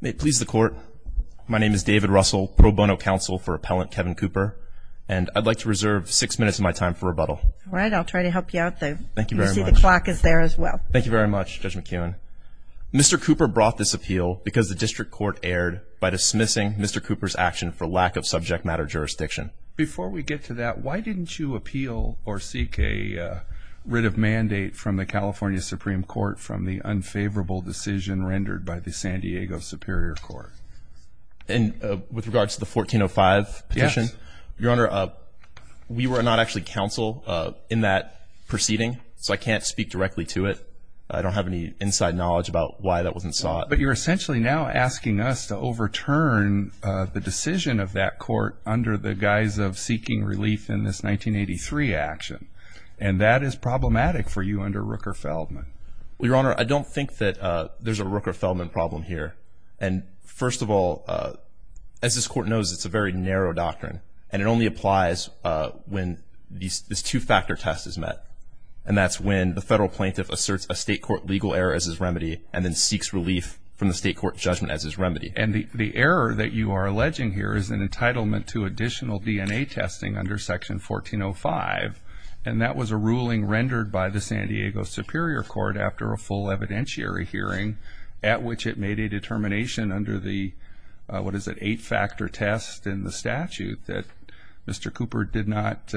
May it please the Court, my name is David Russell, Pro Bono Counsel for Appellant Kevin Cooper, and I'd like to reserve six minutes of my time for rebuttal. All right, I'll try to help you out though. Thank you very much. You see the clock is there as well. Thank you very much, Judge McKeown. Mr. Cooper brought this appeal because the District Court erred by dismissing Mr. Cooper's action for lack of subject matter jurisdiction. Before we get to that, why didn't you appeal or seek a writ of mandate from the California Supreme Court from the unfavorable decision rendered by the San Diego Superior Court? And with regards to the 1405 petition? Yes. Your Honor, we were not actually counsel in that proceeding, so I can't speak directly to it. I don't have any inside knowledge about why that wasn't sought. But you're essentially now asking us to overturn the decision of that court under the guise of seeking relief in this 1983 action, and that is problematic for you under Rooker-Feldman. Your Honor, I don't think that there's a Rooker-Feldman problem here. And first of all, as this Court knows, it's a very narrow doctrine, and it only applies when this two-factor test is met, and that's when the federal plaintiff asserts a state court legal error as his remedy and then seeks relief from the state court judgment as his remedy. And the error that you are alleging here is an entitlement to additional DNA testing under Section 1405, and that was a ruling rendered by the San Diego Superior Court after a full evidentiary hearing at which it made a determination under the, what is it, eight-factor test in the statute, that Mr. Cooper did not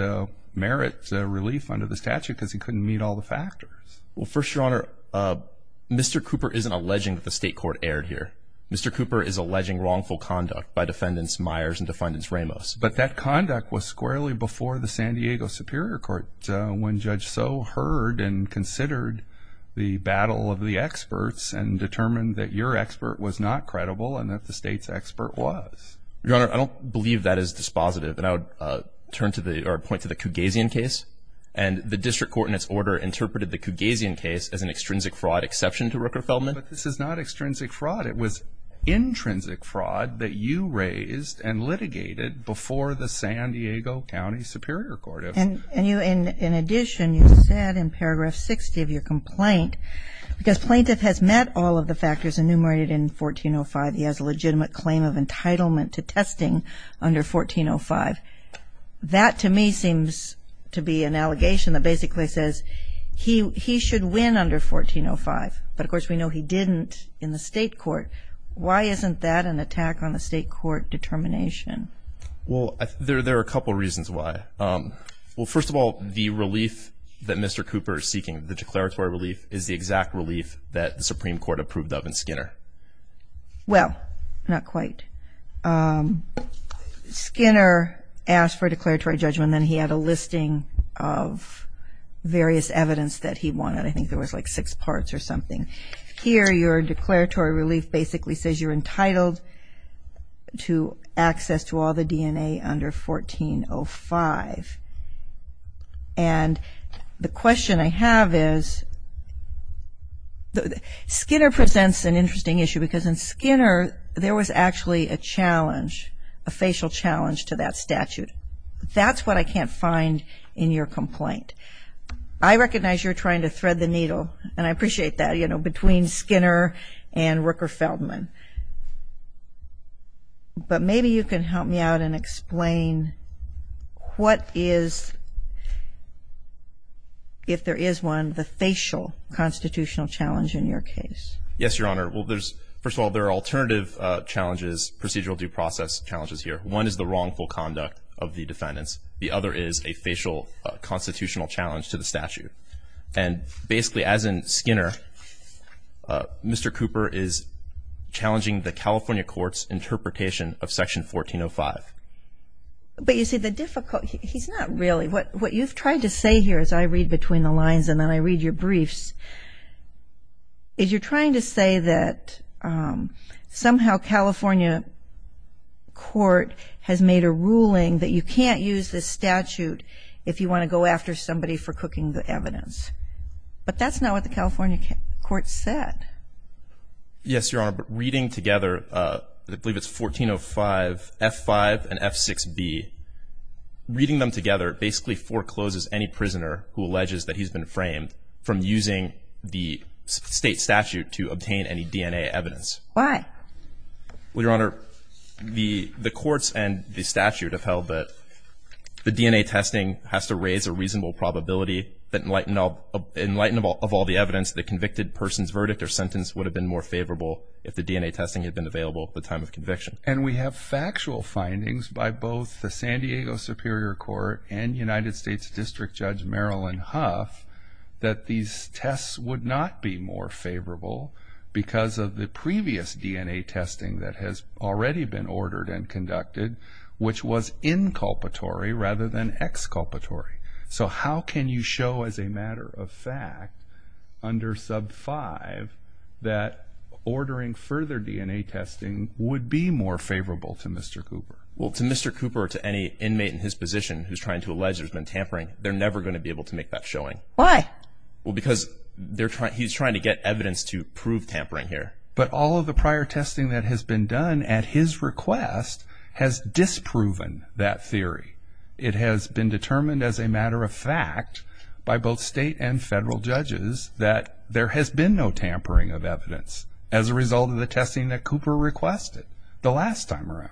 merit relief under the statute because he couldn't meet all the factors. Well, first, Your Honor, Mr. Cooper isn't alleging that the state court erred here. Mr. Cooper is alleging wrongful conduct by Defendants Myers and Defendants Ramos. But that conduct was squarely before the San Diego Superior Court when Judge Soe heard and considered the battle of the experts and determined that your expert was not credible and that the state's expert was. Your Honor, I don't believe that is dispositive, and I would turn to the, or point to the Cugazian case. And the district court in its order interpreted the Cugazian case as an extrinsic fraud exception to Rooker-Feldman. But this is not extrinsic fraud. It was intrinsic fraud that you raised and litigated before the San Diego County Superior Court. And you, in addition, you said in paragraph 60 of your complaint, because plaintiff has met all of the factors enumerated in 1405, he has a legitimate claim of entitlement to testing under 1405. That, to me, seems to be an allegation that basically says he should win under 1405. But, of course, we know he didn't in the state court. Why isn't that an attack on the state court determination? Well, there are a couple reasons why. Well, first of all, the relief that Mr. Cooper is seeking, the declaratory relief, is the exact relief that the Supreme Court approved of in Skinner. Well, not quite. Skinner asked for a declaratory judgment, and he had a listing of various evidence that he wanted. I think there was like six parts or something. Here, your declaratory relief basically says you're entitled to access to all the DNA under 1405. And the question I have is Skinner presents an interesting issue, because in Skinner there was actually a challenge, a facial challenge to that statute. That's what I can't find in your complaint. I recognize you're trying to thread the needle, and I appreciate that, you know, between Skinner and Rooker Feldman. But maybe you can help me out and explain what is, if there is one, the facial constitutional challenge in your case. Yes, Your Honor. Well, first of all, there are alternative challenges, procedural due process challenges here. One is the wrongful conduct of the defendants. The other is a facial constitutional challenge to the statute. And basically, as in Skinner, Mr. Cooper is challenging the California court's interpretation of Section 1405. But, you see, the difficult ñ he's not really ñ what you've tried to say here, as I read between the lines and then I read your briefs, is you're trying to say that somehow California court has made a ruling that you can't use this statute if you want to go after somebody for cooking the evidence. But that's not what the California court said. Yes, Your Honor. But reading together, I believe it's 1405 F5 and F6B, reading them together basically forecloses any prisoner who alleges that he's been framed from using the state statute to obtain any DNA evidence. Why? Well, Your Honor, the courts and the statute have held that the DNA testing has to raise a reasonable probability that in light of all the evidence, the convicted person's verdict or sentence would have been more favorable if the DNA testing had been available at the time of conviction. And we have factual findings by both the San Diego Superior Court and United States District Judge Marilyn Huff that these tests would not be more favorable because of the previous DNA testing that has already been ordered and conducted, which was inculpatory rather than exculpatory. So how can you show as a matter of fact under Sub 5 that ordering further DNA testing would be more favorable to Mr. Cooper? Well, to Mr. Cooper or to any inmate in his position who's trying to allege there's been tampering, they're never going to be able to make that showing. Why? Well, because he's trying to get evidence to prove tampering here. But all of the prior testing that has been done at his request has disproven that theory. It has been determined as a matter of fact by both state and federal judges that there has been no tampering of evidence as a result of the testing that Cooper requested the last time around.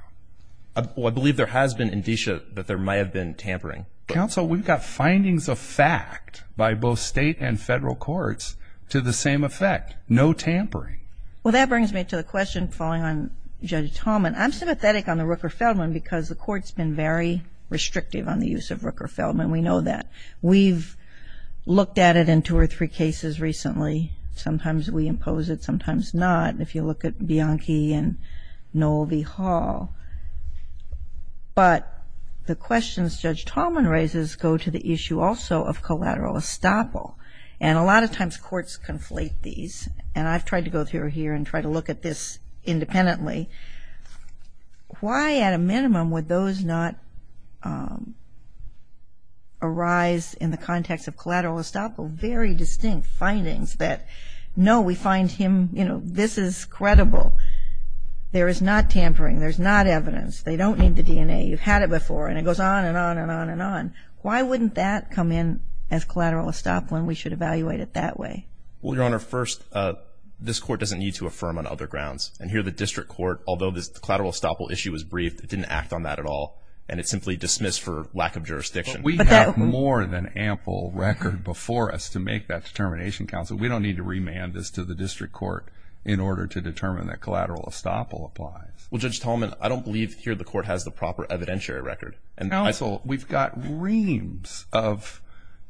Well, I believe there has been indicia that there might have been tampering. Counsel, we've got findings of fact by both state and federal courts to the same effect, no tampering. Well, that brings me to the question following on Judge Tallman. I'm sympathetic on the Rooker-Feldman because the court's been very restrictive on the use of Rooker-Feldman. We know that. We've looked at it in two or three cases recently. Sometimes we impose it, sometimes not. If you look at Bianchi and Noel V. Hall. But the questions Judge Tallman raises go to the issue also of collateral estoppel. And a lot of times courts conflate these. And I've tried to go through here and try to look at this independently. Why, at a minimum, would those not arise in the context of collateral estoppel? Very distinct findings that, no, we find him, you know, this is credible. There is not tampering. There's not evidence. They don't need the DNA. You've had it before. And it goes on and on and on and on. Why wouldn't that come in as collateral estoppel and we should evaluate it that way? Well, Your Honor, first, this court doesn't need to affirm on other grounds. And here the district court, although this collateral estoppel issue was briefed, it didn't act on that at all. And it's simply dismissed for lack of jurisdiction. But we have more than ample record before us to make that determination, counsel. We don't need to remand this to the district court in order to determine that collateral estoppel applies. Well, Judge Tallman, I don't believe here the court has the proper evidentiary record. Counsel, we've got reams of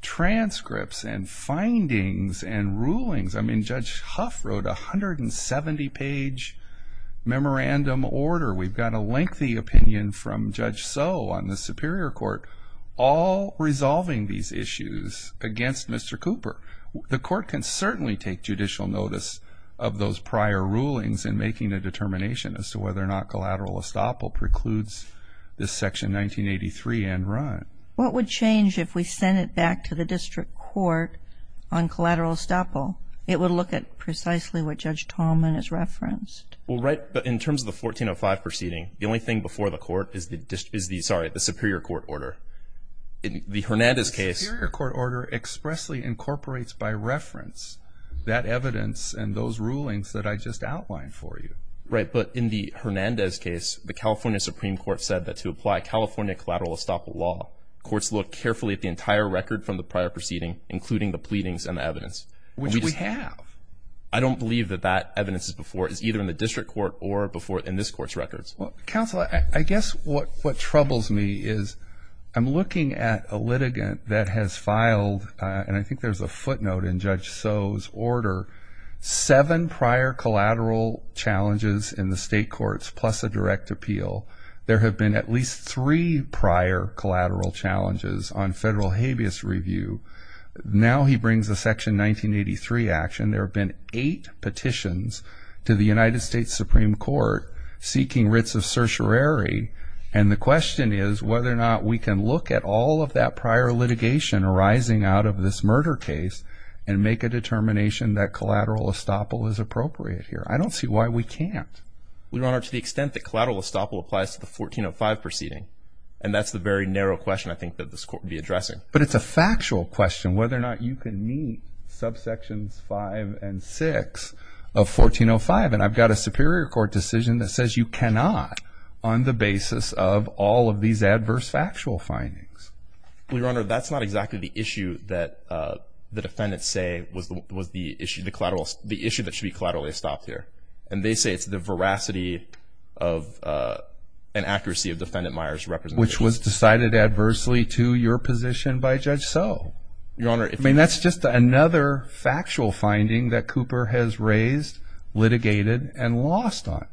transcripts and findings and rulings. I mean, Judge Huff wrote a 170-page memorandum order. We've got a lengthy opinion from Judge Soe on the Superior Court, all resolving these issues against Mr. Cooper. The court can certainly take judicial notice of those prior rulings in making a determination as to whether or not collateral estoppel precludes this Section 1983 end run. What would change if we sent it back to the district court on collateral estoppel? It would look at precisely what Judge Tallman has referenced. Well, right, but in terms of the 1405 proceeding, the only thing before the court is the Superior Court order. In the Hernandez case... The Superior Court order expressly incorporates by reference that evidence and those rulings that I just outlined for you. Right, but in the Hernandez case, the California Supreme Court said that to apply California collateral estoppel law, courts look carefully at the entire record from the prior proceeding, including the pleadings and the evidence. Which we have. I don't believe that that evidence is either in the district court or in this court's records. Counsel, I guess what troubles me is I'm looking at a litigant that has filed, and I think there's a footnote in Judge Soe's order, seven prior collateral challenges in the state courts plus a direct appeal. There have been at least three prior collateral challenges on federal habeas review. Now he brings a Section 1983 action. There have been eight petitions to the United States Supreme Court seeking writs of certiorari, and the question is whether or not we can look at all of that prior litigation arising out of this murder case and make a determination that collateral estoppel is appropriate here. I don't see why we can't. Your Honor, to the extent that collateral estoppel applies to the 1405 proceeding, But it's a factual question whether or not you can meet subsections 5 and 6 of 1405, and I've got a Superior Court decision that says you cannot on the basis of all of these adverse factual findings. Well, Your Honor, that's not exactly the issue that the defendants say was the issue, the issue that should be collateral estoppel here, and they say it's the veracity and accuracy of Defendant Meyer's representation. Which was decided adversely to your position by Judge So. Your Honor. I mean, that's just another factual finding that Cooper has raised, litigated, and lost on.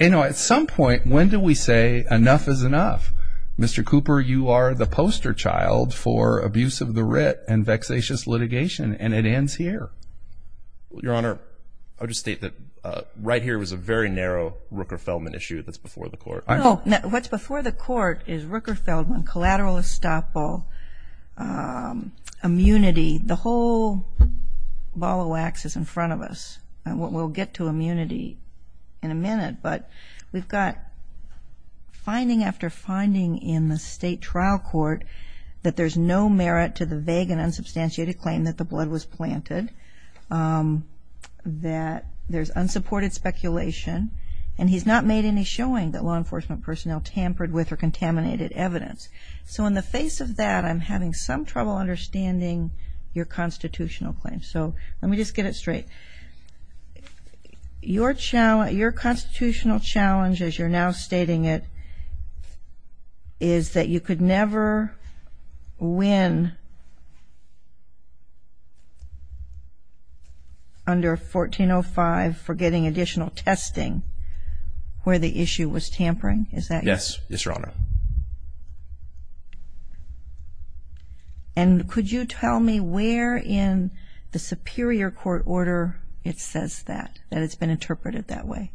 You know, at some point, when do we say enough is enough? Mr. Cooper, you are the poster child for abuse of the writ and vexatious litigation, and it ends here. Your Honor, I'll just state that right here was a very narrow Rooker-Feldman issue that's before the Court. No, what's before the Court is Rooker-Feldman, collateral estoppel, immunity. The whole ball of wax is in front of us. We'll get to immunity in a minute, but we've got finding after finding in the State Trial Court that there's no merit to the vague and unsubstantiated claim that the blood was planted, that there's unsupported speculation, and he's not made any showing that law enforcement personnel tampered with or contaminated evidence. So in the face of that, I'm having some trouble understanding your constitutional claim. So let me just get it straight. Your constitutional challenge, as you're now stating it, is that you could never win under 1405 for getting additional testing where the issue was tampering? Is that correct? Yes, yes, Your Honor. And could you tell me where in the superior court order it says that, that it's been interpreted that way?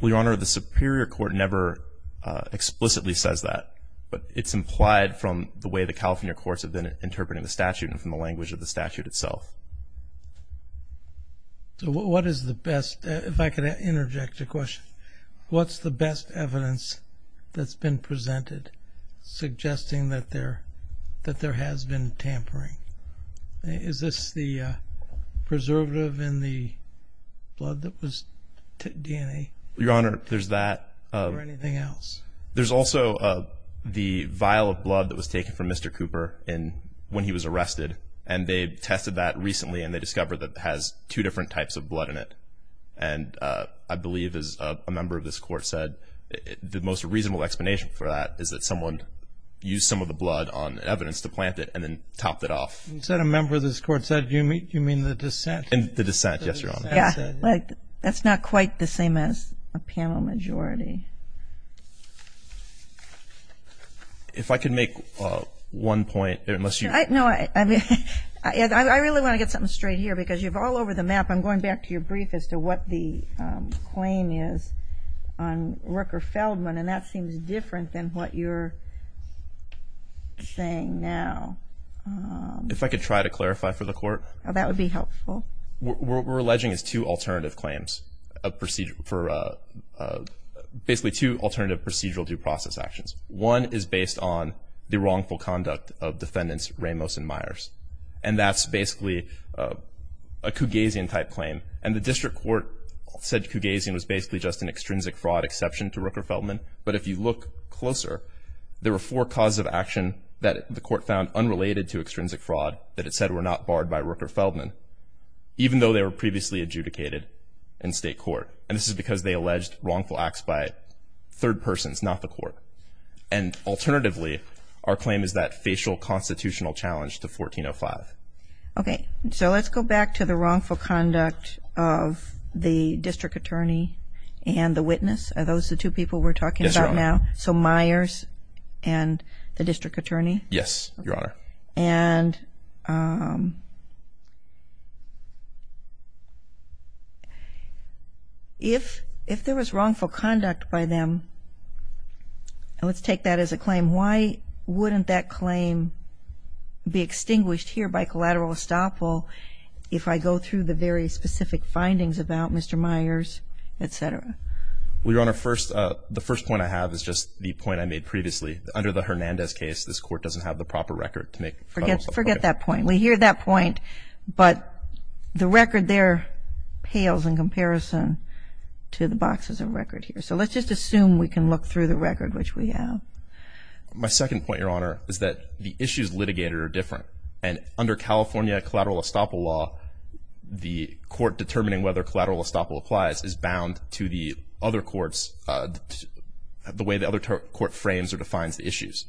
Well, Your Honor, the superior court never explicitly says that, but it's implied from the way the California courts have been interpreting the statute and from the language of the statute itself. So what is the best, if I could interject a question, what's the best evidence that's been presented suggesting that there has been tampering? Is this the preservative in the blood that was DNA? Your Honor, there's that. Or anything else? There's also the vial of blood that was taken from Mr. Cooper when he was arrested, and they tested that recently and they discovered that it has two different types of blood in it. And I believe, as a member of this court said, the most reasonable explanation for that is that someone used some of the blood on evidence to plant it and then topped it off. You said a member of this court said. Do you mean the dissent? The dissent, yes, Your Honor. That's not quite the same as a panel majority. If I could make one point. No, I really want to get something straight here because you're all over the map. I'm going back to your brief as to what the claim is on Rooker-Feldman, and that seems different than what you're saying now. If I could try to clarify for the court. That would be helpful. We're alleging it's two alternative claims for basically two alternative procedural due process actions. One is based on the wrongful conduct of Defendants Ramos and Myers, and that's basically a Cougasian-type claim. And the district court said Cougasian was basically just an extrinsic fraud exception to Rooker-Feldman. But if you look closer, there were four causes of action that the court found unrelated to extrinsic fraud that it said were not barred by Rooker-Feldman, even though they were previously adjudicated in state court. And this is because they alleged wrongful acts by third persons, not the court. And alternatively, our claim is that facial constitutional challenge to 1405. Okay. So let's go back to the wrongful conduct of the district attorney and the witness. Are those the two people we're talking about now? Yes, Your Honor. So Myers and the district attorney? Yes, Your Honor. And if there was wrongful conduct by them, let's take that as a claim, and why wouldn't that claim be extinguished here by collateral estoppel if I go through the very specific findings about Mr. Myers, et cetera? Well, Your Honor, the first point I have is just the point I made previously. Under the Hernandez case, this court doesn't have the proper record to make federal suffrage. Forget that point. We hear that point, but the record there pales in comparison to the boxes of record here. So let's just assume we can look through the record, which we have. My second point, Your Honor, is that the issues litigated are different. And under California collateral estoppel law, the court determining whether collateral estoppel applies is bound to the other courts, the way the other court frames or defines the issues.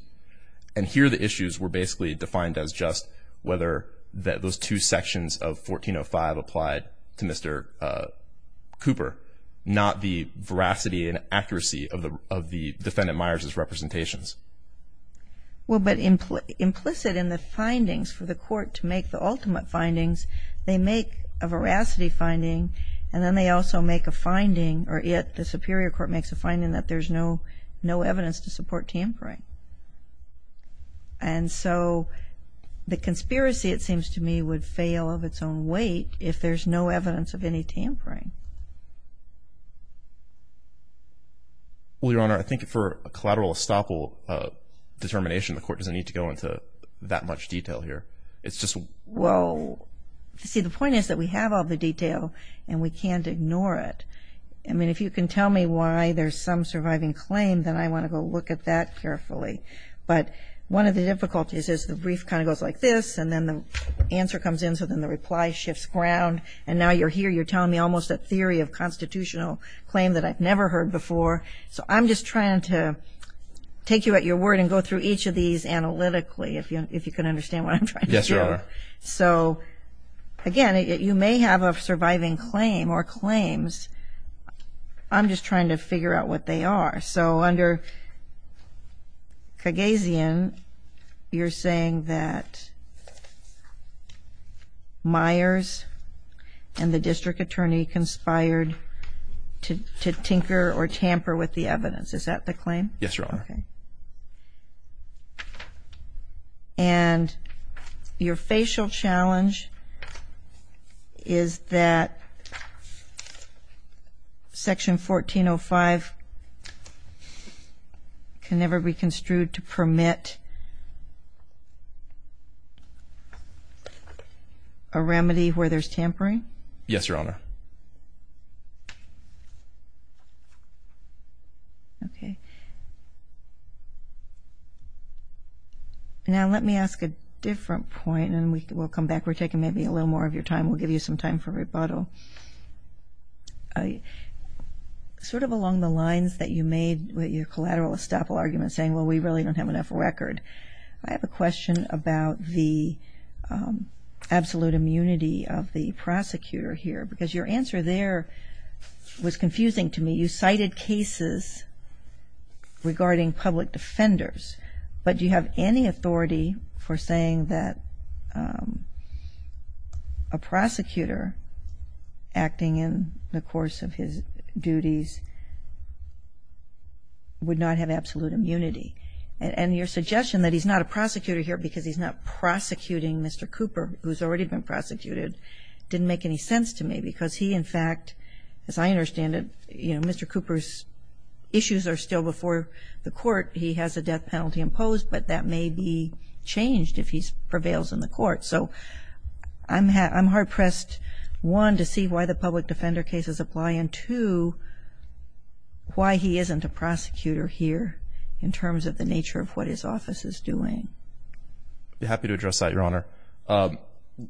And here the issues were basically defined as just whether those two sections of 1405 applied to Mr. Cooper, not the veracity and accuracy of the defendant Myers' representations. Well, but implicit in the findings for the court to make the ultimate findings, they make a veracity finding, and then they also make a finding, or yet the superior court makes a finding that there's no evidence to support tampering. And so the conspiracy, it seems to me, would fail of its own weight if there's no evidence of any tampering. Well, Your Honor, I think for a collateral estoppel determination, the court doesn't need to go into that much detail here. It's just what we're doing. Well, see, the point is that we have all the detail and we can't ignore it. I mean, if you can tell me why there's some surviving claim, then I want to go look at that carefully. But one of the difficulties is the brief kind of goes like this, and then the answer comes in, so then the reply shifts ground. And now you're here, you're telling me almost a theory of constitutional claim that I've never heard before. So I'm just trying to take you at your word and go through each of these analytically, if you can understand what I'm trying to do. Yes, Your Honor. So, again, you may have a surviving claim or claims. I'm just trying to figure out what they are. So under Kagazian, you're saying that Myers and the district attorney conspired to tinker or tamper with the evidence. Is that the claim? Yes, Your Honor. And your facial challenge is that Section 1405 can never be construed to permit a remedy where there's tampering? Yes, Your Honor. Okay. Now let me ask a different point, and we'll come back. We're taking maybe a little more of your time. We'll give you some time for rebuttal. Sort of along the lines that you made with your collateral estoppel argument saying, well, we really don't have enough record, I have a question about the absolute immunity of the prosecutor here, because your answer there was confusing to me. You cited cases regarding public defenders, but do you have any authority for saying that a prosecutor acting in the course of his duties would not have absolute immunity? And your suggestion that he's not a prosecutor here because he's not prosecuting Mr. Cooper, who's already been prosecuted, didn't make any sense to me because he, in fact, as I understand it, Mr. Cooper's issues are still before the court. He has a death penalty imposed, but that may be changed if he prevails in the court. So I'm hard-pressed, one, to see why the public defender cases apply, and two, why he isn't a prosecutor here in terms of the nature of what his office is doing. I'd be happy to address that, Your Honor.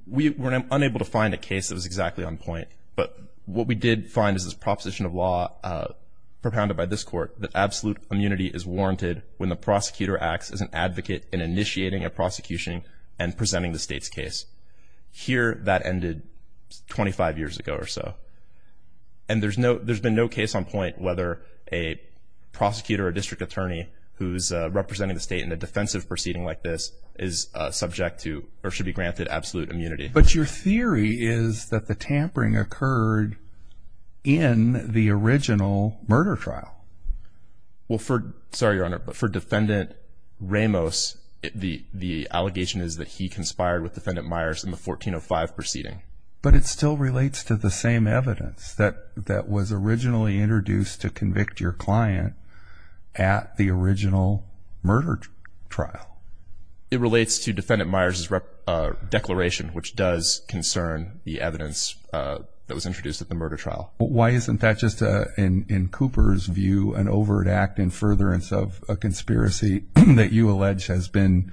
We were unable to find a case that was exactly on point, but what we did find is this proposition of law propounded by this court that absolute immunity is warranted when the prosecutor acts as an advocate in initiating a prosecution and presenting the state's case. Here, that ended 25 years ago or so. And there's been no case on point whether a prosecutor or district attorney who's representing the state in a defensive proceeding like this is subject to or should be granted absolute immunity. But your theory is that the tampering occurred in the original murder trial. Well, sorry, Your Honor, but for Defendant Ramos, the allegation is that he conspired with Defendant Myers in the 1405 proceeding. But it still relates to the same evidence that was originally introduced to convict your client at the original murder trial. It relates to Defendant Myers' declaration, which does concern the evidence that was introduced at the murder trial. Why isn't that just, in Cooper's view, an overt act in furtherance of a conspiracy that you allege has been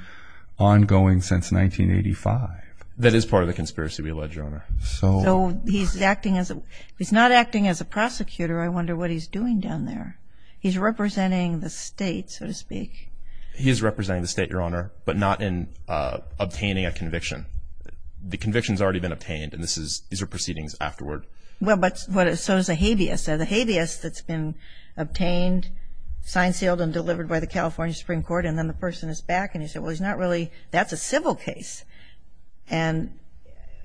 ongoing since 1985? That is part of the conspiracy we allege, Your Honor. So he's acting as a ‑‑ he's not acting as a prosecutor. I wonder what he's doing down there. He's representing the state, so to speak. He is representing the state, Your Honor, but not in obtaining a conviction. The conviction has already been obtained, and these are proceedings afterward. Well, but so is the habeas. The habeas that's been obtained, signed, sealed, and delivered by the California Supreme Court, and then the person is back, and you say, well, he's not really ‑‑ that's a civil case. And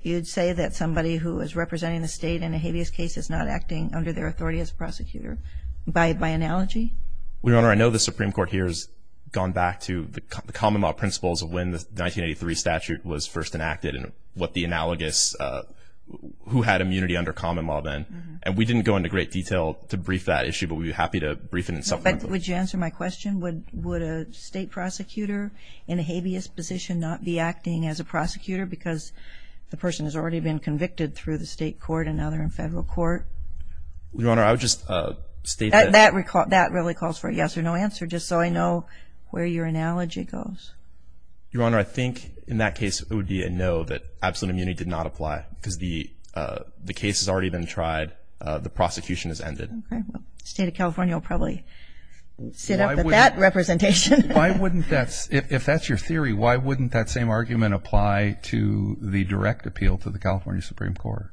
you'd say that somebody who is representing the state in a habeas case is not acting under their authority as a prosecutor by analogy? Well, Your Honor, I know the Supreme Court here has gone back to the common law principles of when the 1983 statute was first enacted and what the analogous ‑‑ who had immunity under common law then. And we didn't go into great detail to brief that issue, but we'd be happy to brief it in supplement. But would you answer my question? Would a state prosecutor in a habeas position not be acting as a prosecutor because the person has already been convicted through the state court and now they're in federal court? Your Honor, I would just state that ‑‑ That really calls for a yes or no answer, just so I know where your analogy goes. Your Honor, I think in that case it would be a no that absolute immunity did not apply because the case has already been tried. The prosecution has ended. Okay. Well, the state of California will probably sit up at that representation. Why wouldn't that ‑‑ if that's your theory, why wouldn't that same argument apply to the direct appeal to the California Supreme Court?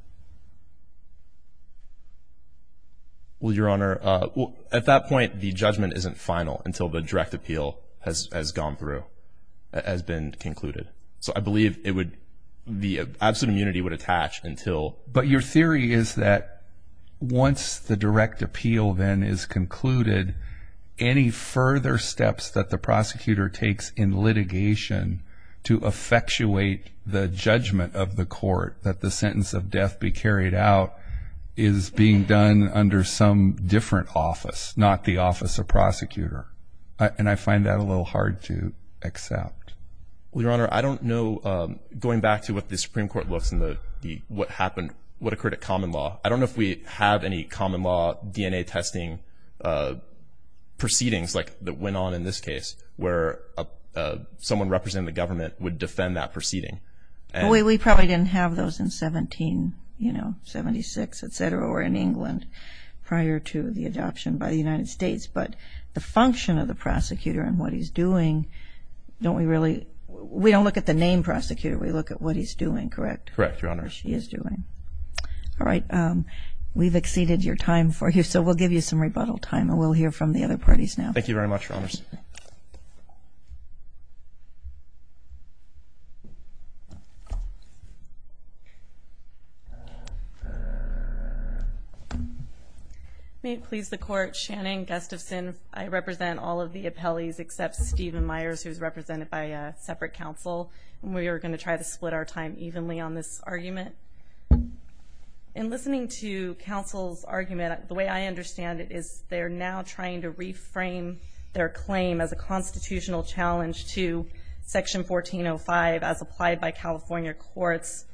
Well, Your Honor, at that point the judgment isn't final until the direct appeal has gone through, has been concluded. So I believe it would ‑‑ the absolute immunity would attach until. But your theory is that once the direct appeal then is concluded, any further steps that the prosecutor takes in litigation to effectuate the judgment of the court that the sentence of death be carried out is being done under some different office, not the office of prosecutor. Well, Your Honor, I don't know, going back to what the Supreme Court looks and what occurred at common law, I don't know if we have any common law DNA testing proceedings that went on in this case where someone representing the government would defend that proceeding. We probably didn't have those in 1776, et cetera, or in England prior to the adoption by the United States. But the function of the prosecutor and what he's doing, don't we really ‑‑ we don't look at the name prosecutor, we look at what he's doing, correct? Correct, Your Honor. What she is doing. All right, we've exceeded your time for you, so we'll give you some rebuttal time and we'll hear from the other parties now. Thank you very much, Your Honors. Thank you, Your Honor. May it please the Court, Shannon Gustafson. I represent all of the appellees except Stephen Myers, who is represented by a separate counsel, and we are going to try to split our time evenly on this argument. In listening to counsel's argument, the way I understand it is they're now trying to reframe their claim as a constitutional challenge to Section 1405 as applied by California courts,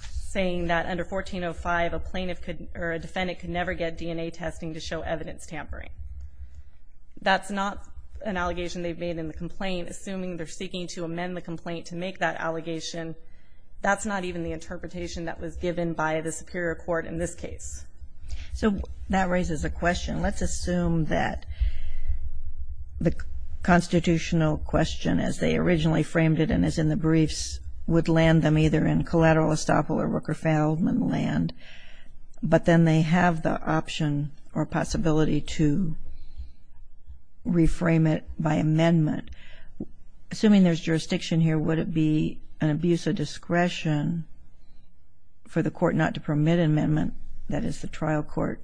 saying that under 1405 a defendant could never get DNA testing to show evidence tampering. That's not an allegation they've made in the complaint, assuming they're seeking to amend the complaint to make that allegation. That's not even the interpretation that was given by the superior court in this case. So that raises a question. Let's assume that the constitutional question, as they originally framed it and as in the briefs, would land them either in collateral estoppel or worker-failment land, but then they have the option or possibility to reframe it by amendment. Assuming there's jurisdiction here, would it be an abuse of discretion for the court not to permit an amendment, that is the trial court,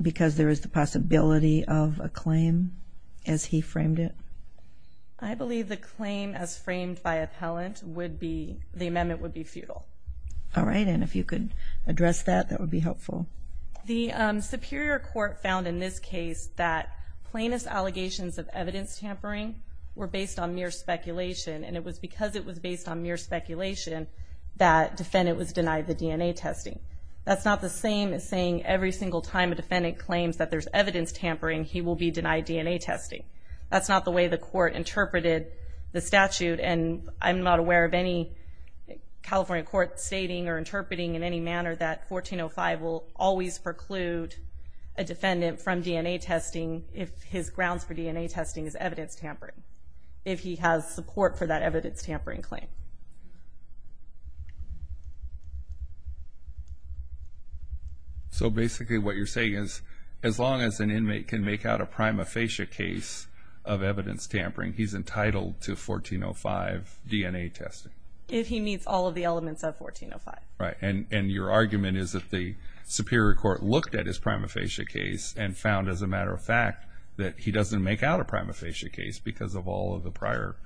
because there is the possibility of a claim as he framed it? I believe the claim as framed by appellant would be, the amendment would be, futile. All right, and if you could address that, that would be helpful. The superior court found in this case that plaintiff's allegations of evidence tampering were based on mere speculation, and it was because it was based on mere speculation that the defendant was denied the DNA testing. That's not the same as saying every single time a defendant claims that there's evidence tampering, he will be denied DNA testing. That's not the way the court interpreted the statute, and I'm not aware of any California court stating or interpreting in any manner that 1405 will always preclude a defendant from DNA testing if his grounds for DNA testing is evidence tampering, if he has support for that evidence tampering claim. So basically what you're saying is, as long as an inmate can make out a prima facie case of evidence tampering, he's entitled to 1405 DNA testing? If he meets all of the elements of 1405. Right, and your argument is that the superior court looked at his prima facie case and found, as a matter of fact, that he doesn't make out a prima facie case because of all of the prior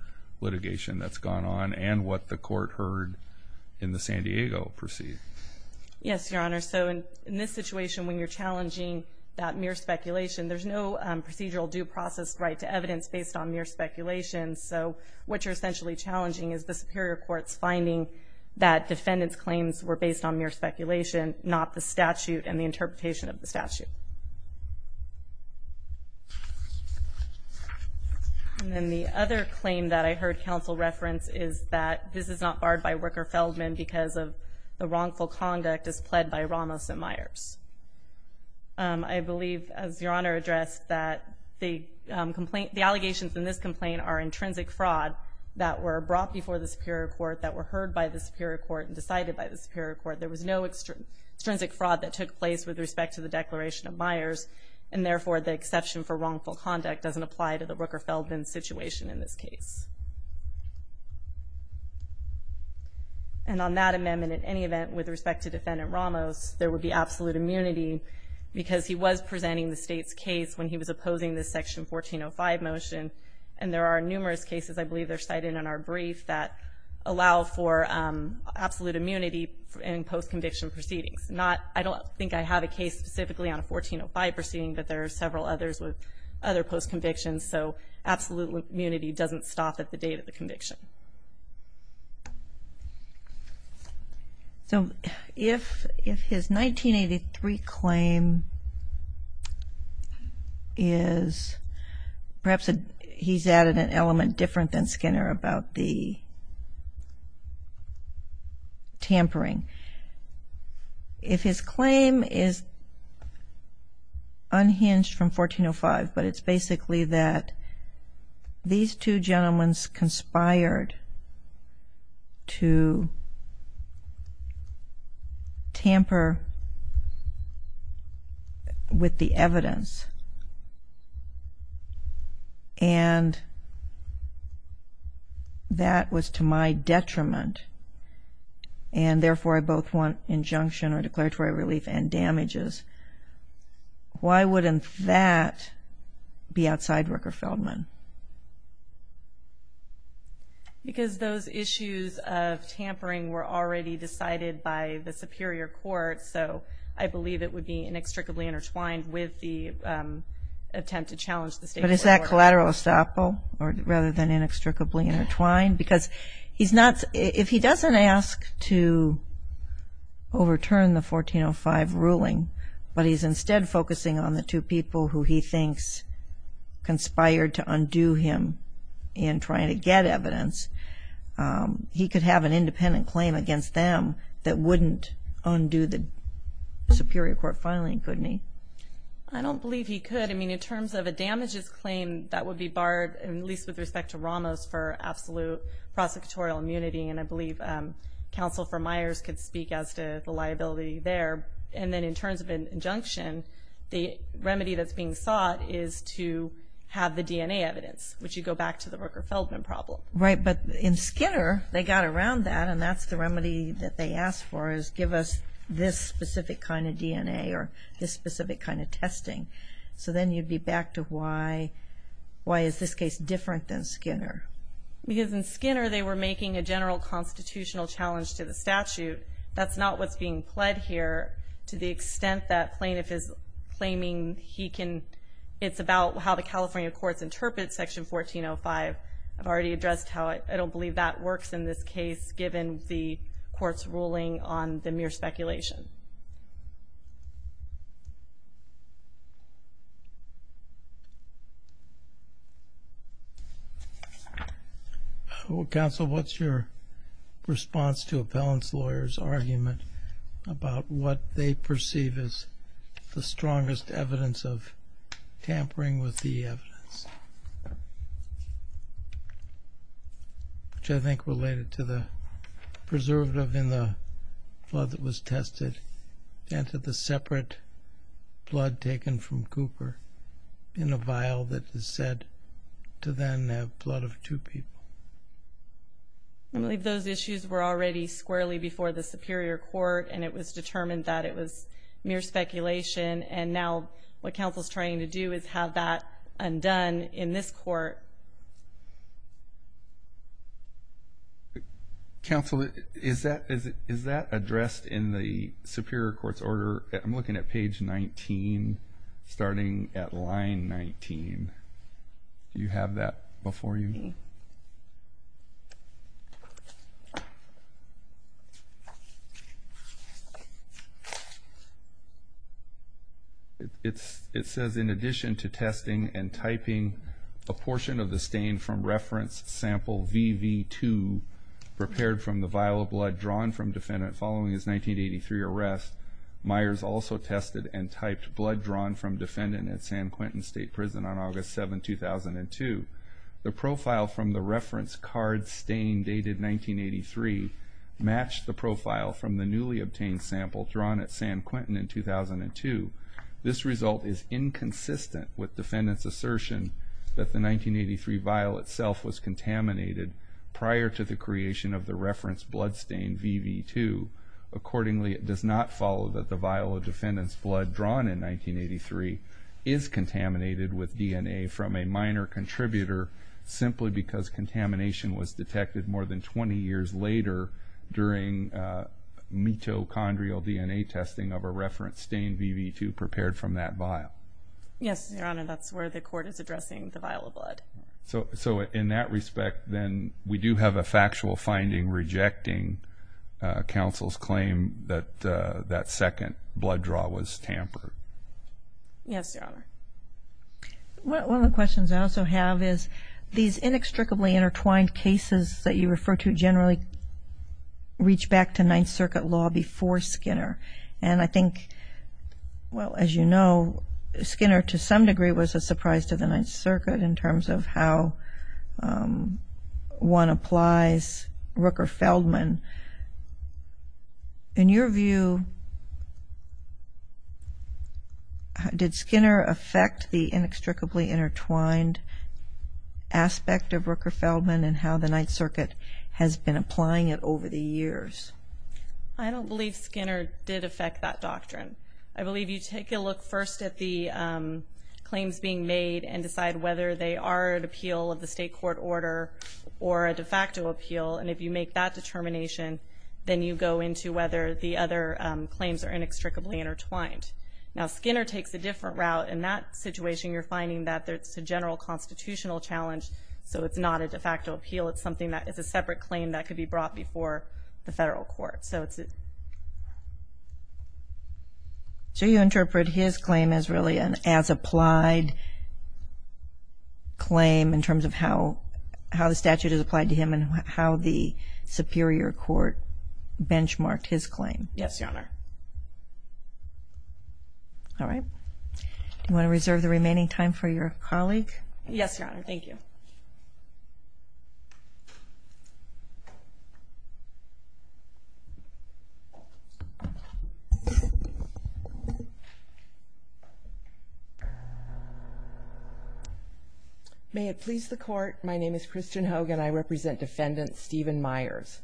litigation that's gone on and what the court heard in the San Diego proceeding. Yes, Your Honor. So in this situation, when you're challenging that mere speculation, there's no procedural due process right to evidence based on mere speculation. So what you're essentially challenging is the superior court's finding that defendants' claims were based on mere speculation, not the statute and the interpretation of the statute. And then the other claim that I heard counsel reference is that this is not barred by Worker-Feldman because of the wrongful conduct as pled by Ramos and Myers. I believe, as Your Honor addressed, that the allegations in this complaint are intrinsic fraud that were brought before the superior court, that were heard by the superior court, and decided by the superior court. There was no extrinsic fraud that took place with respect to the declaration of Myers, and therefore the exception for wrongful conduct doesn't apply to the Worker-Feldman situation in this case. And on that amendment, in any event, with respect to Defendant Ramos, there would be absolute immunity because he was presenting the state's case when he was opposing the Section 1405 motion. And there are numerous cases, I believe they're cited in our brief, that allow for absolute immunity in post-conviction proceedings. I don't think I have a case specifically on a 1405 proceeding, but there are several others with other post-convictions. So absolute immunity doesn't stop at the date of the conviction. So if his 1983 claim is perhaps he's added an element different than Skinner about the tampering. If his claim is unhinged from 1405, but it's basically that these two gentlemen conspired to tamper with the evidence, and that was to my detriment, and therefore I both want injunction or declaratory relief and damages, why wouldn't that be outside Worker-Feldman? Because those issues of tampering were already decided by the Superior Court, so I believe it would be inextricably intertwined with the attempt to challenge the State Court order. But is that collateral estoppel rather than inextricably intertwined? Because if he doesn't ask to overturn the 1405 ruling, but he's instead focusing on the two people who he thinks conspired to undo him in trying to get evidence, he could have an independent claim against them that wouldn't undo the Superior Court filing, couldn't he? I don't believe he could. I mean, in terms of a damages claim, that would be barred, at least with respect to Ramos for absolute prosecutorial immunity, and I believe Counsel for Myers could speak as to the liability there. And then in terms of an injunction, the remedy that's being sought is to have the DNA evidence, which would go back to the Worker-Feldman problem. Right, but in Skinner, they got around that, and that's the remedy that they asked for, is give us this specific kind of DNA or this specific kind of testing. So then you'd be back to why is this case different than Skinner? Because in Skinner, they were making a general constitutional challenge to the statute. That's not what's being pled here to the extent that plaintiff is claiming he can. It's about how the California courts interpret Section 1405. I've already addressed how I don't believe that works in this case given the court's ruling on the mere speculation. Counsel, what's your response to appellants' lawyers' argument about what they perceive as the strongest evidence of tampering with the evidence, which I think related to the preservative in the blood that was tested and to the separate blood taken from Cooper in a vial that is said to then have blood of two people? I believe those issues were already squarely before the Superior Court, and it was determined that it was mere speculation. And now what counsel is trying to do is have that undone in this court. Counsel, is that addressed in the Superior Court's order? I'm looking at page 19, starting at line 19. Do you have that before you? It says, in addition to testing and typing a portion of the stain from reference sample VV2 prepared from the vial of blood drawn from defendant following his 1983 arrest, Myers also tested and typed blood drawn from defendant at San Quentin State Prison on August 7, 2002. The profile from the reference card stain dated 1983 matched the profile from the newly obtained sample drawn at San Quentin in 2002. This result is inconsistent with defendant's assertion that the 1983 vial itself was contaminated prior to the creation of the reference blood stain VV2. Accordingly, it does not follow that the vial of defendant's blood drawn in 1983 is contaminated with DNA from a minor contributor simply because contamination was detected more than 20 years later during mitochondrial DNA testing of a reference stain VV2 prepared from that vial. Yes, Your Honor, that's where the court is addressing the vial of blood. So in that respect, then, we do have a factual finding rejecting counsel's claim that that second blood draw was tampered. Yes, Your Honor. One of the questions I also have is these inextricably intertwined cases that you refer to generally reach back to Ninth Circuit law before Skinner. And I think, well, as you know, Skinner to some degree was a surprise to the Ninth Circuit in terms of how one applies Rooker-Feldman. In your view, did Skinner affect the inextricably intertwined aspect of Rooker-Feldman and how the Ninth Circuit has been applying it over the years? I don't believe Skinner did affect that doctrine. I believe you take a look first at the claims being made and decide whether they are an appeal of the state court order or a de facto appeal. And if you make that determination, then you go into whether the other claims are inextricably intertwined. Now Skinner takes a different route. In that situation, you're finding that it's a general constitutional challenge, so it's not a de facto appeal. It's a separate claim that could be brought before the federal court. So you interpret his claim as really an as-applied claim in terms of how the statute is applied to him and how the superior court benchmarked his claim? Yes, Your Honor. All right. Do you want to reserve the remaining time for your colleague? Yes, Your Honor. Thank you. May it please the Court, my name is Christian Hogan. I represent Defendant Stephen Myers.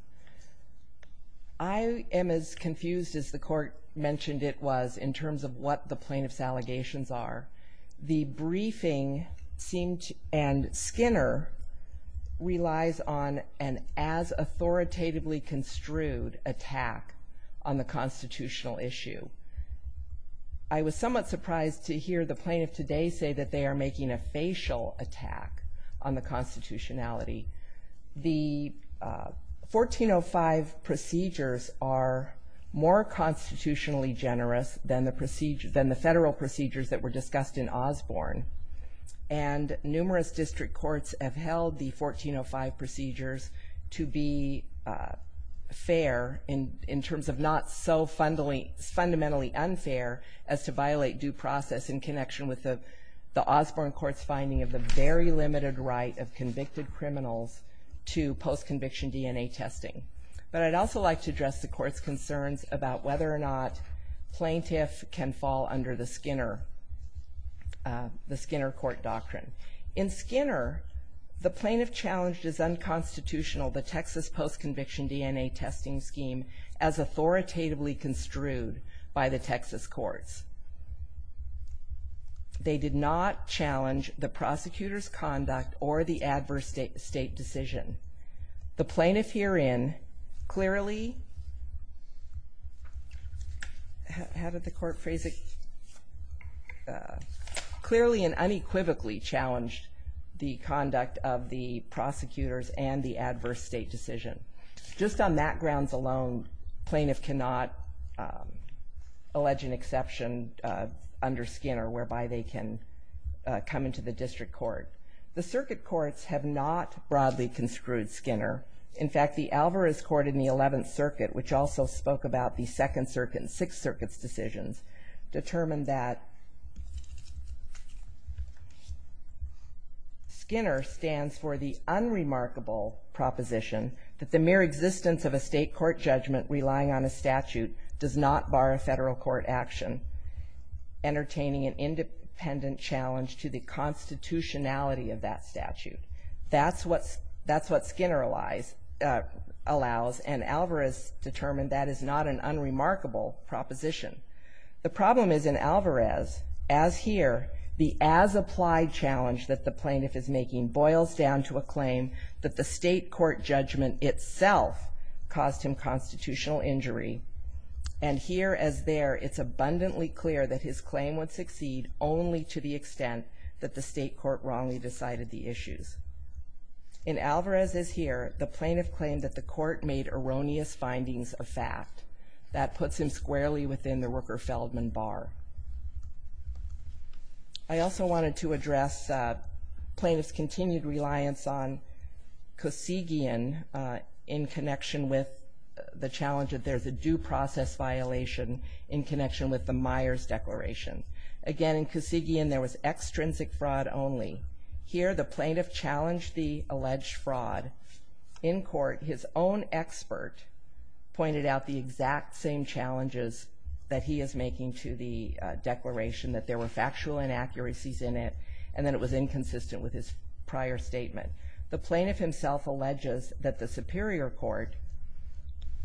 I am as confused as the Court mentioned it was in terms of what the plaintiff's allegations are. The briefing and Skinner relies on an as authoritatively construed attack on the constitutional issue. I was somewhat surprised to hear the plaintiff today say that they are making a facial attack on the constitutionality. The 1405 procedures are more constitutionally generous than the federal procedures that were discussed in Osborne, and numerous district courts have held the 1405 procedures to be fair in terms of not so fundamentally unfair as to violate due process in connection with the Osborne Court's finding of the very limited right of convicted criminals to post-conviction DNA testing. But I'd also like to address the Court's concerns about whether or not plaintiff can fall under the Skinner Court doctrine. In Skinner, the plaintiff challenged as unconstitutional the Texas post-conviction DNA testing scheme as authoritatively construed by the Texas courts. They did not challenge the prosecutor's conduct or the adverse state decision. The plaintiff herein clearly and unequivocally challenged the conduct of the prosecutors and the adverse state decision. Just on that grounds alone, plaintiff cannot allege an exception under Skinner whereby they can come into the district court. The circuit courts have not broadly construed Skinner. In fact, the Alvarez Court in the 11th Circuit, which also spoke about the 2nd Circuit and 6th Circuit's decisions, determined that Skinner stands for the unremarkable proposition that the mere existence of a state court judgment relying on a statute does not bar a federal court action, entertaining an independent challenge to the constitutionality of that statute. That's what Skinner allows, and Alvarez determined that is not an unremarkable proposition. The problem is in Alvarez, as here, the as-applied challenge that the plaintiff is making boils down to a claim that the state court judgment itself caused him constitutional injury, and here, as there, it's abundantly clear that his claim would succeed only to the extent that the state court wrongly decided the issues. In Alvarez, as here, the plaintiff claimed that the court made erroneous findings of fact. That puts him squarely within the Rooker-Feldman bar. I also wanted to address plaintiff's continued reliance on Kosygian in connection with the challenge that there's a due process violation in connection with the Myers Declaration. Again, in Kosygian, there was extrinsic fraud only. Here, the plaintiff challenged the alleged fraud. In court, his own expert pointed out the exact same challenges that he is making to the declaration, that there were factual inaccuracies in it, and that it was inconsistent with his prior statement. The plaintiff himself alleges that the superior court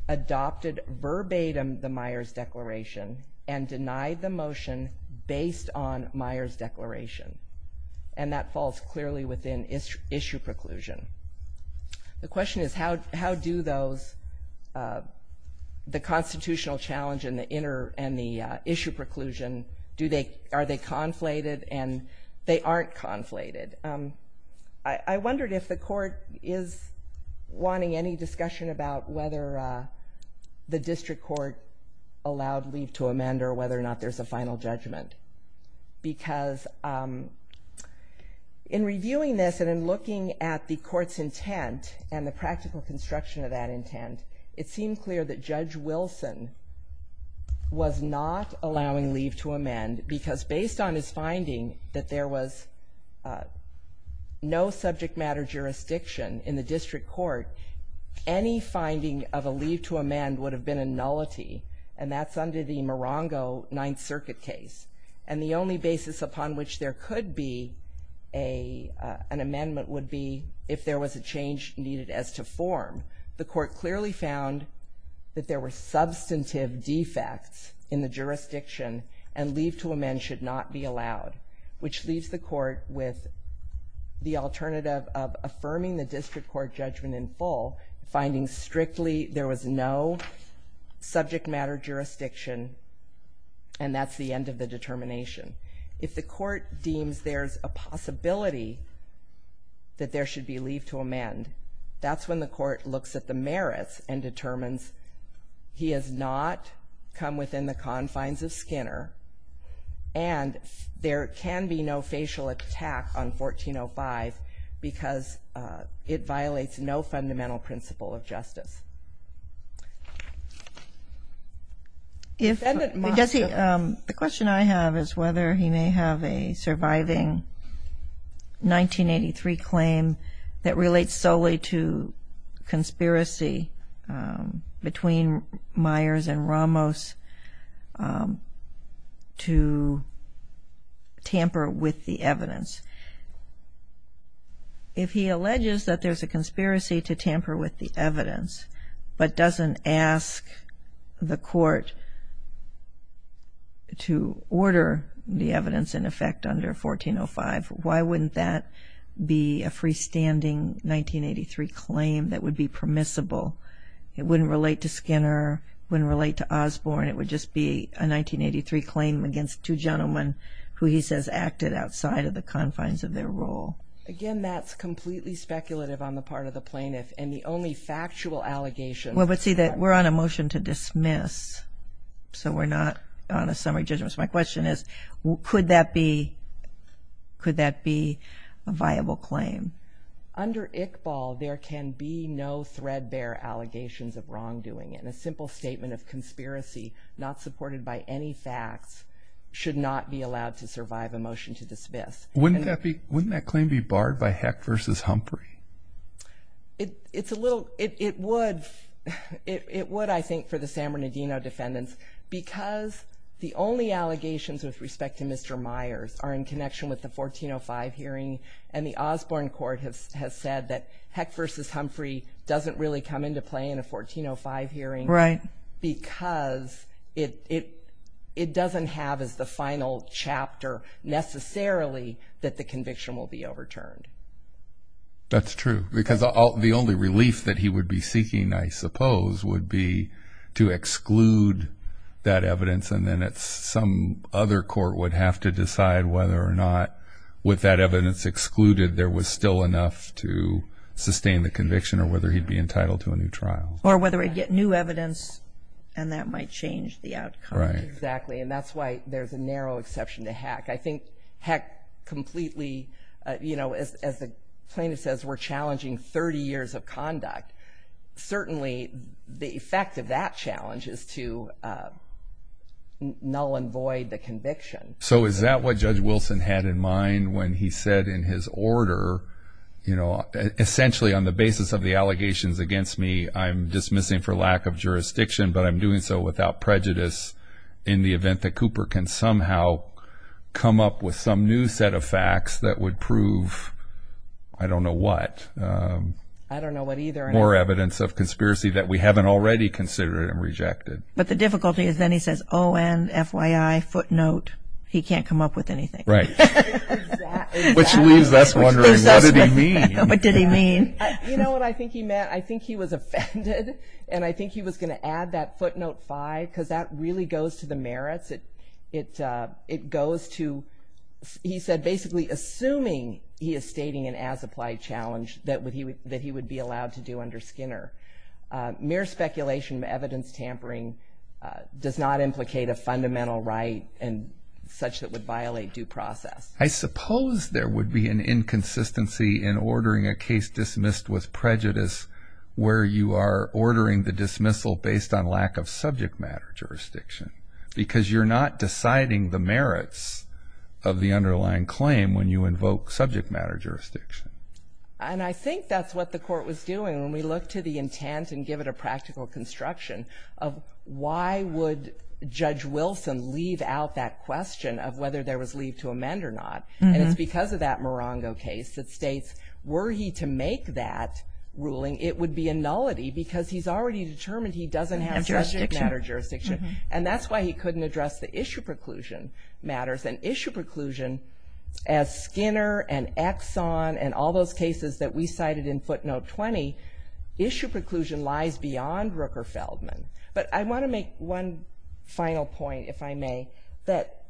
adopted verbatim the Myers Declaration and denied the motion based on Myers Declaration, and that falls clearly within issue preclusion. The question is how do those, the constitutional challenge and the issue preclusion, are they conflated, and they aren't conflated. I wondered if the court is wanting any discussion about whether the district court allowed leave to amend or whether or not there's a final judgment. Because in reviewing this and in looking at the court's intent and the practical construction of that intent, it seemed clear that Judge Wilson was not allowing leave to amend because based on his finding that there was no subject matter jurisdiction in the district court, any finding of a leave to amend would have been a nullity, and that's under the Morongo Ninth Circuit case. And the only basis upon which there could be an amendment would be if there was a change needed as to form. The court clearly found that there were substantive defects in the jurisdiction and leave to amend should not be allowed, which leaves the court with the alternative of affirming the district court judgment in full, finding strictly there was no subject matter jurisdiction, and that's the end of the determination. If the court deems there's a possibility that there should be leave to amend, that's when the court looks at the merits and determines he has not come within the confines of Skinner and there can be no facial attack on 1405 because it violates no fundamental principle of justice. The question I have is whether he may have a surviving 1983 claim that relates solely to conspiracy between Myers and Ramos to tamper with the evidence. If he alleges that there's a conspiracy to tamper with the evidence but doesn't ask the court to order the evidence in effect under 1405, why wouldn't that be a freestanding 1983 claim that would be permissible? It wouldn't relate to Skinner. It wouldn't relate to Osborne. It would just be a 1983 claim against two gentlemen who he says acted outside of the confines of their role. Again, that's completely speculative on the part of the plaintiff, and the only factual allegation... Well, but see, we're on a motion to dismiss, so we're not on a summary judgment. My question is, could that be a viable claim? Under Iqbal, there can be no threadbare allegations of wrongdoing, and a simple statement of conspiracy not supported by any facts should not be allowed to survive a motion to dismiss. Wouldn't that claim be barred by Heck v. Humphrey? It would, I think, for the San Bernardino defendants because the only allegations with respect to Mr. Myers are in connection with the 1405 hearing, and the Osborne court has said that Heck v. Humphrey doesn't really come into play in a 1405 hearing because it doesn't have as the final chapter necessarily that the conviction will be overturned. That's true, because the only relief that he would be seeking, I suppose, would be to exclude that evidence, and then some other court would have to decide whether or not with that evidence excluded there was still enough to sustain the conviction or whether he'd be entitled to a new trial. Or whether he'd get new evidence, and that might change the outcome. Right, exactly, and that's why there's a narrow exception to Heck. I think Heck completely... As the plaintiff says, we're challenging 30 years of conduct. Certainly, the effect of that challenge is to null and void the conviction. So is that what Judge Wilson had in mind when he said in his order, essentially on the basis of the allegations against me, I'm dismissing for lack of jurisdiction, but I'm doing so without prejudice in the event that Cooper can somehow come up with some new set of facts that would prove I don't know what. More evidence of conspiracy that we haven't already considered and rejected. But the difficulty is then he says, oh, and FYI, footnote, he can't come up with anything. Right. Exactly. Which leaves us wondering, what did he mean? What did he mean? You know what I think he meant? I think he was offended, and I think he was going to add that footnote 5, because that really goes to the merits. It goes to, he said, basically assuming he is stating an as-applied challenge that he would be allowed to do under Skinner. Mere speculation, evidence tampering does not implicate a fundamental right and such that would violate due process. I suppose there would be an inconsistency in ordering a case dismissed with prejudice where you are ordering the dismissal based on lack of subject matter jurisdiction, because you're not deciding the merits of the underlying claim when you invoke subject matter jurisdiction. And I think that's what the court was doing when we look to the intent and give it a practical construction of why would Judge Wilson leave out that question of whether there was leave to amend or not. And it's because of that Morongo case that states, were he to make that ruling, it would be a nullity because he's already determined he doesn't have subject matter jurisdiction. And that's why he couldn't address the issue preclusion matters. And issue preclusion, as Skinner and Exxon and all those cases that we cited in footnote 20, issue preclusion lies beyond Rooker-Feldman. But I want to make one final point, if I may, that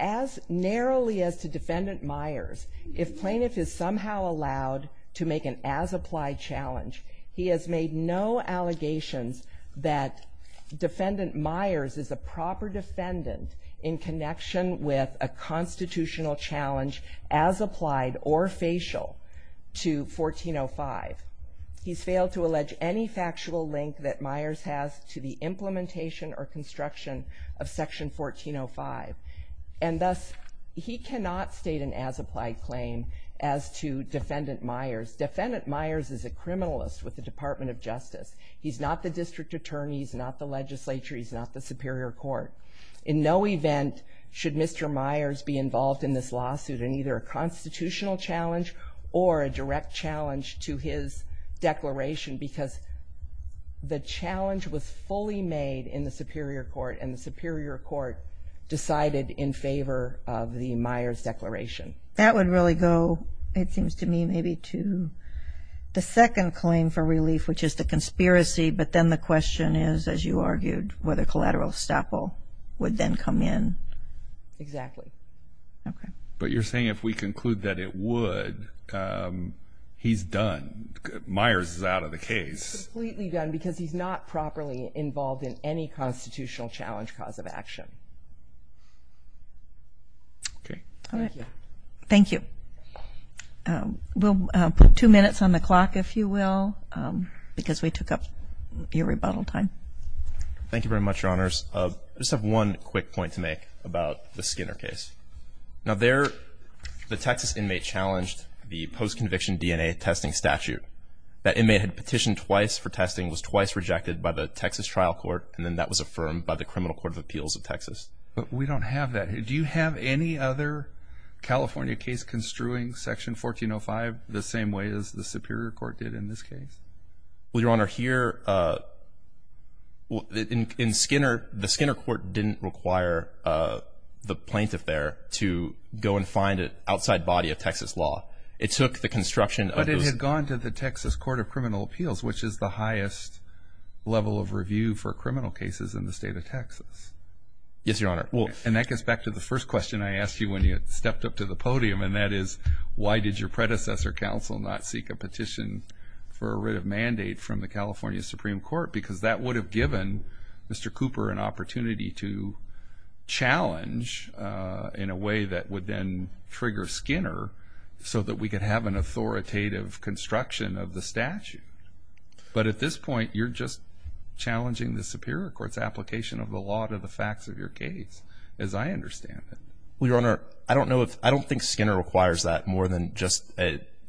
as narrowly as to Defendant Myers, if plaintiff is somehow allowed to make an as-applied challenge, he has made no allegations that Defendant Myers is a proper defendant in connection with a constitutional challenge as applied or facial to 1405. He's failed to allege any factual link that Myers has to the implementation or construction of Section 1405. And thus, he cannot state an as-applied claim as to Defendant Myers. Defendant Myers is a criminalist with the Department of Justice. He's not the district attorney. He's not the legislature. He's not the superior court. In no event should Mr. Myers be involved in this lawsuit in either a constitutional challenge or a direct challenge to his declaration, because the challenge was fully made in the superior court, and the superior court decided in favor of the Myers declaration. That would really go, it seems to me, maybe to the second claim for relief, which is the conspiracy. But then the question is, as you argued, whether collateral estoppel would then come in. Exactly. Okay. But you're saying if we conclude that it would, he's done. Myers is out of the case. Completely done, because he's not properly involved in any constitutional challenge cause of action. Okay. Thank you. Thank you. We'll put two minutes on the clock, if you will, because we took up your rebuttal time. Thank you very much, Your Honors. I just have one quick point to make about the Skinner case. Now there, the Texas inmate challenged the post-conviction DNA testing statute. That inmate had petitioned twice for testing, was twice rejected by the Texas trial court, and then that was affirmed by the Criminal Court of Appeals of Texas. But we don't have that. Do you have any other California case construing Section 1405 the same way as the Skinner case? Well, Your Honor, here, in Skinner, the Skinner court didn't require the plaintiff there to go and find an outside body of Texas law. It took the construction of those. But it had gone to the Texas Court of Criminal Appeals, which is the highest level of review for criminal cases in the state of Texas. Yes, Your Honor. And that gets back to the first question I asked you when you stepped up to the podium, and that is why did your predecessor counsel not seek a petition for a writ of mandate from the California Supreme Court? Because that would have given Mr. Cooper an opportunity to challenge in a way that would then trigger Skinner so that we could have an authoritative construction of the statute. But at this point, you're just challenging the Superior Court's application of the law to the facts of your case, as I understand it. Well, Your Honor, I don't think Skinner requires that more than just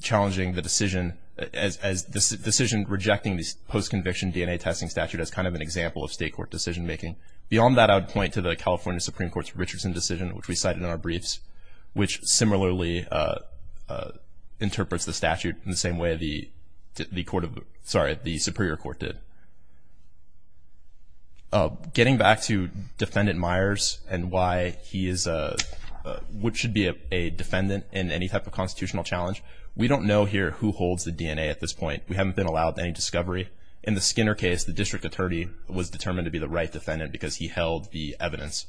challenging the decision as decision rejecting the post-conviction DNA testing statute as kind of an example of state court decision making. Beyond that, I would point to the California Supreme Court's Richardson decision, which we cited in our briefs, which similarly interprets the statute in the same way the Superior Court did. Getting back to Defendant Myers and why he is what should be a defendant in any type of constitutional challenge, we don't know here who holds the DNA at this point. We haven't been allowed any discovery. In the Skinner case, the district attorney was determined to be the right defendant because he held the evidence.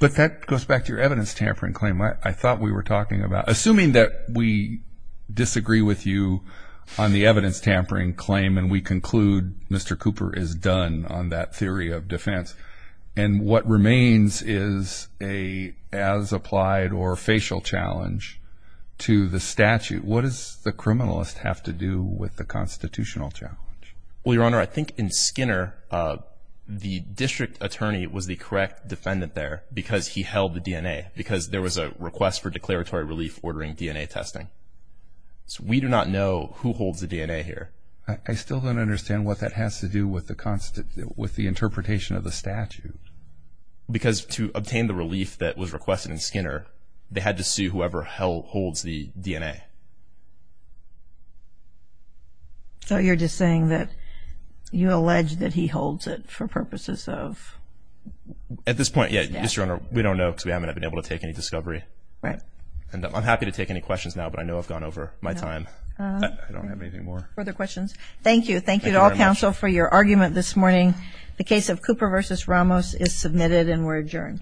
But that goes back to your evidence tampering claim I thought we were talking about. Assuming that we disagree with you on the evidence tampering claim and we conclude Mr. Cooper is done on that theory of defense and what remains is a as-applied or facial challenge to the statute, what does the criminalist have to do with the constitutional challenge? Well, Your Honor, I think in Skinner the district attorney was the correct defendant there because he held the DNA because there was a request for declaratory relief ordering DNA testing. So we do not know who holds the DNA here. I still don't understand what that has to do with the interpretation of the statute. Because to obtain the relief that was requested in Skinner, they had to see whoever holds the DNA. So you're just saying that you allege that he holds it for purposes of? At this point, yes, Your Honor, we don't know because we haven't been able to take any discovery. Right. I'm happy to take any questions now, but I know I've gone over my time. I don't have anything more. Further questions? Thank you. Thank you to all counsel for your argument this morning. The case of Cooper v. Ramos is submitted and we're adjourned.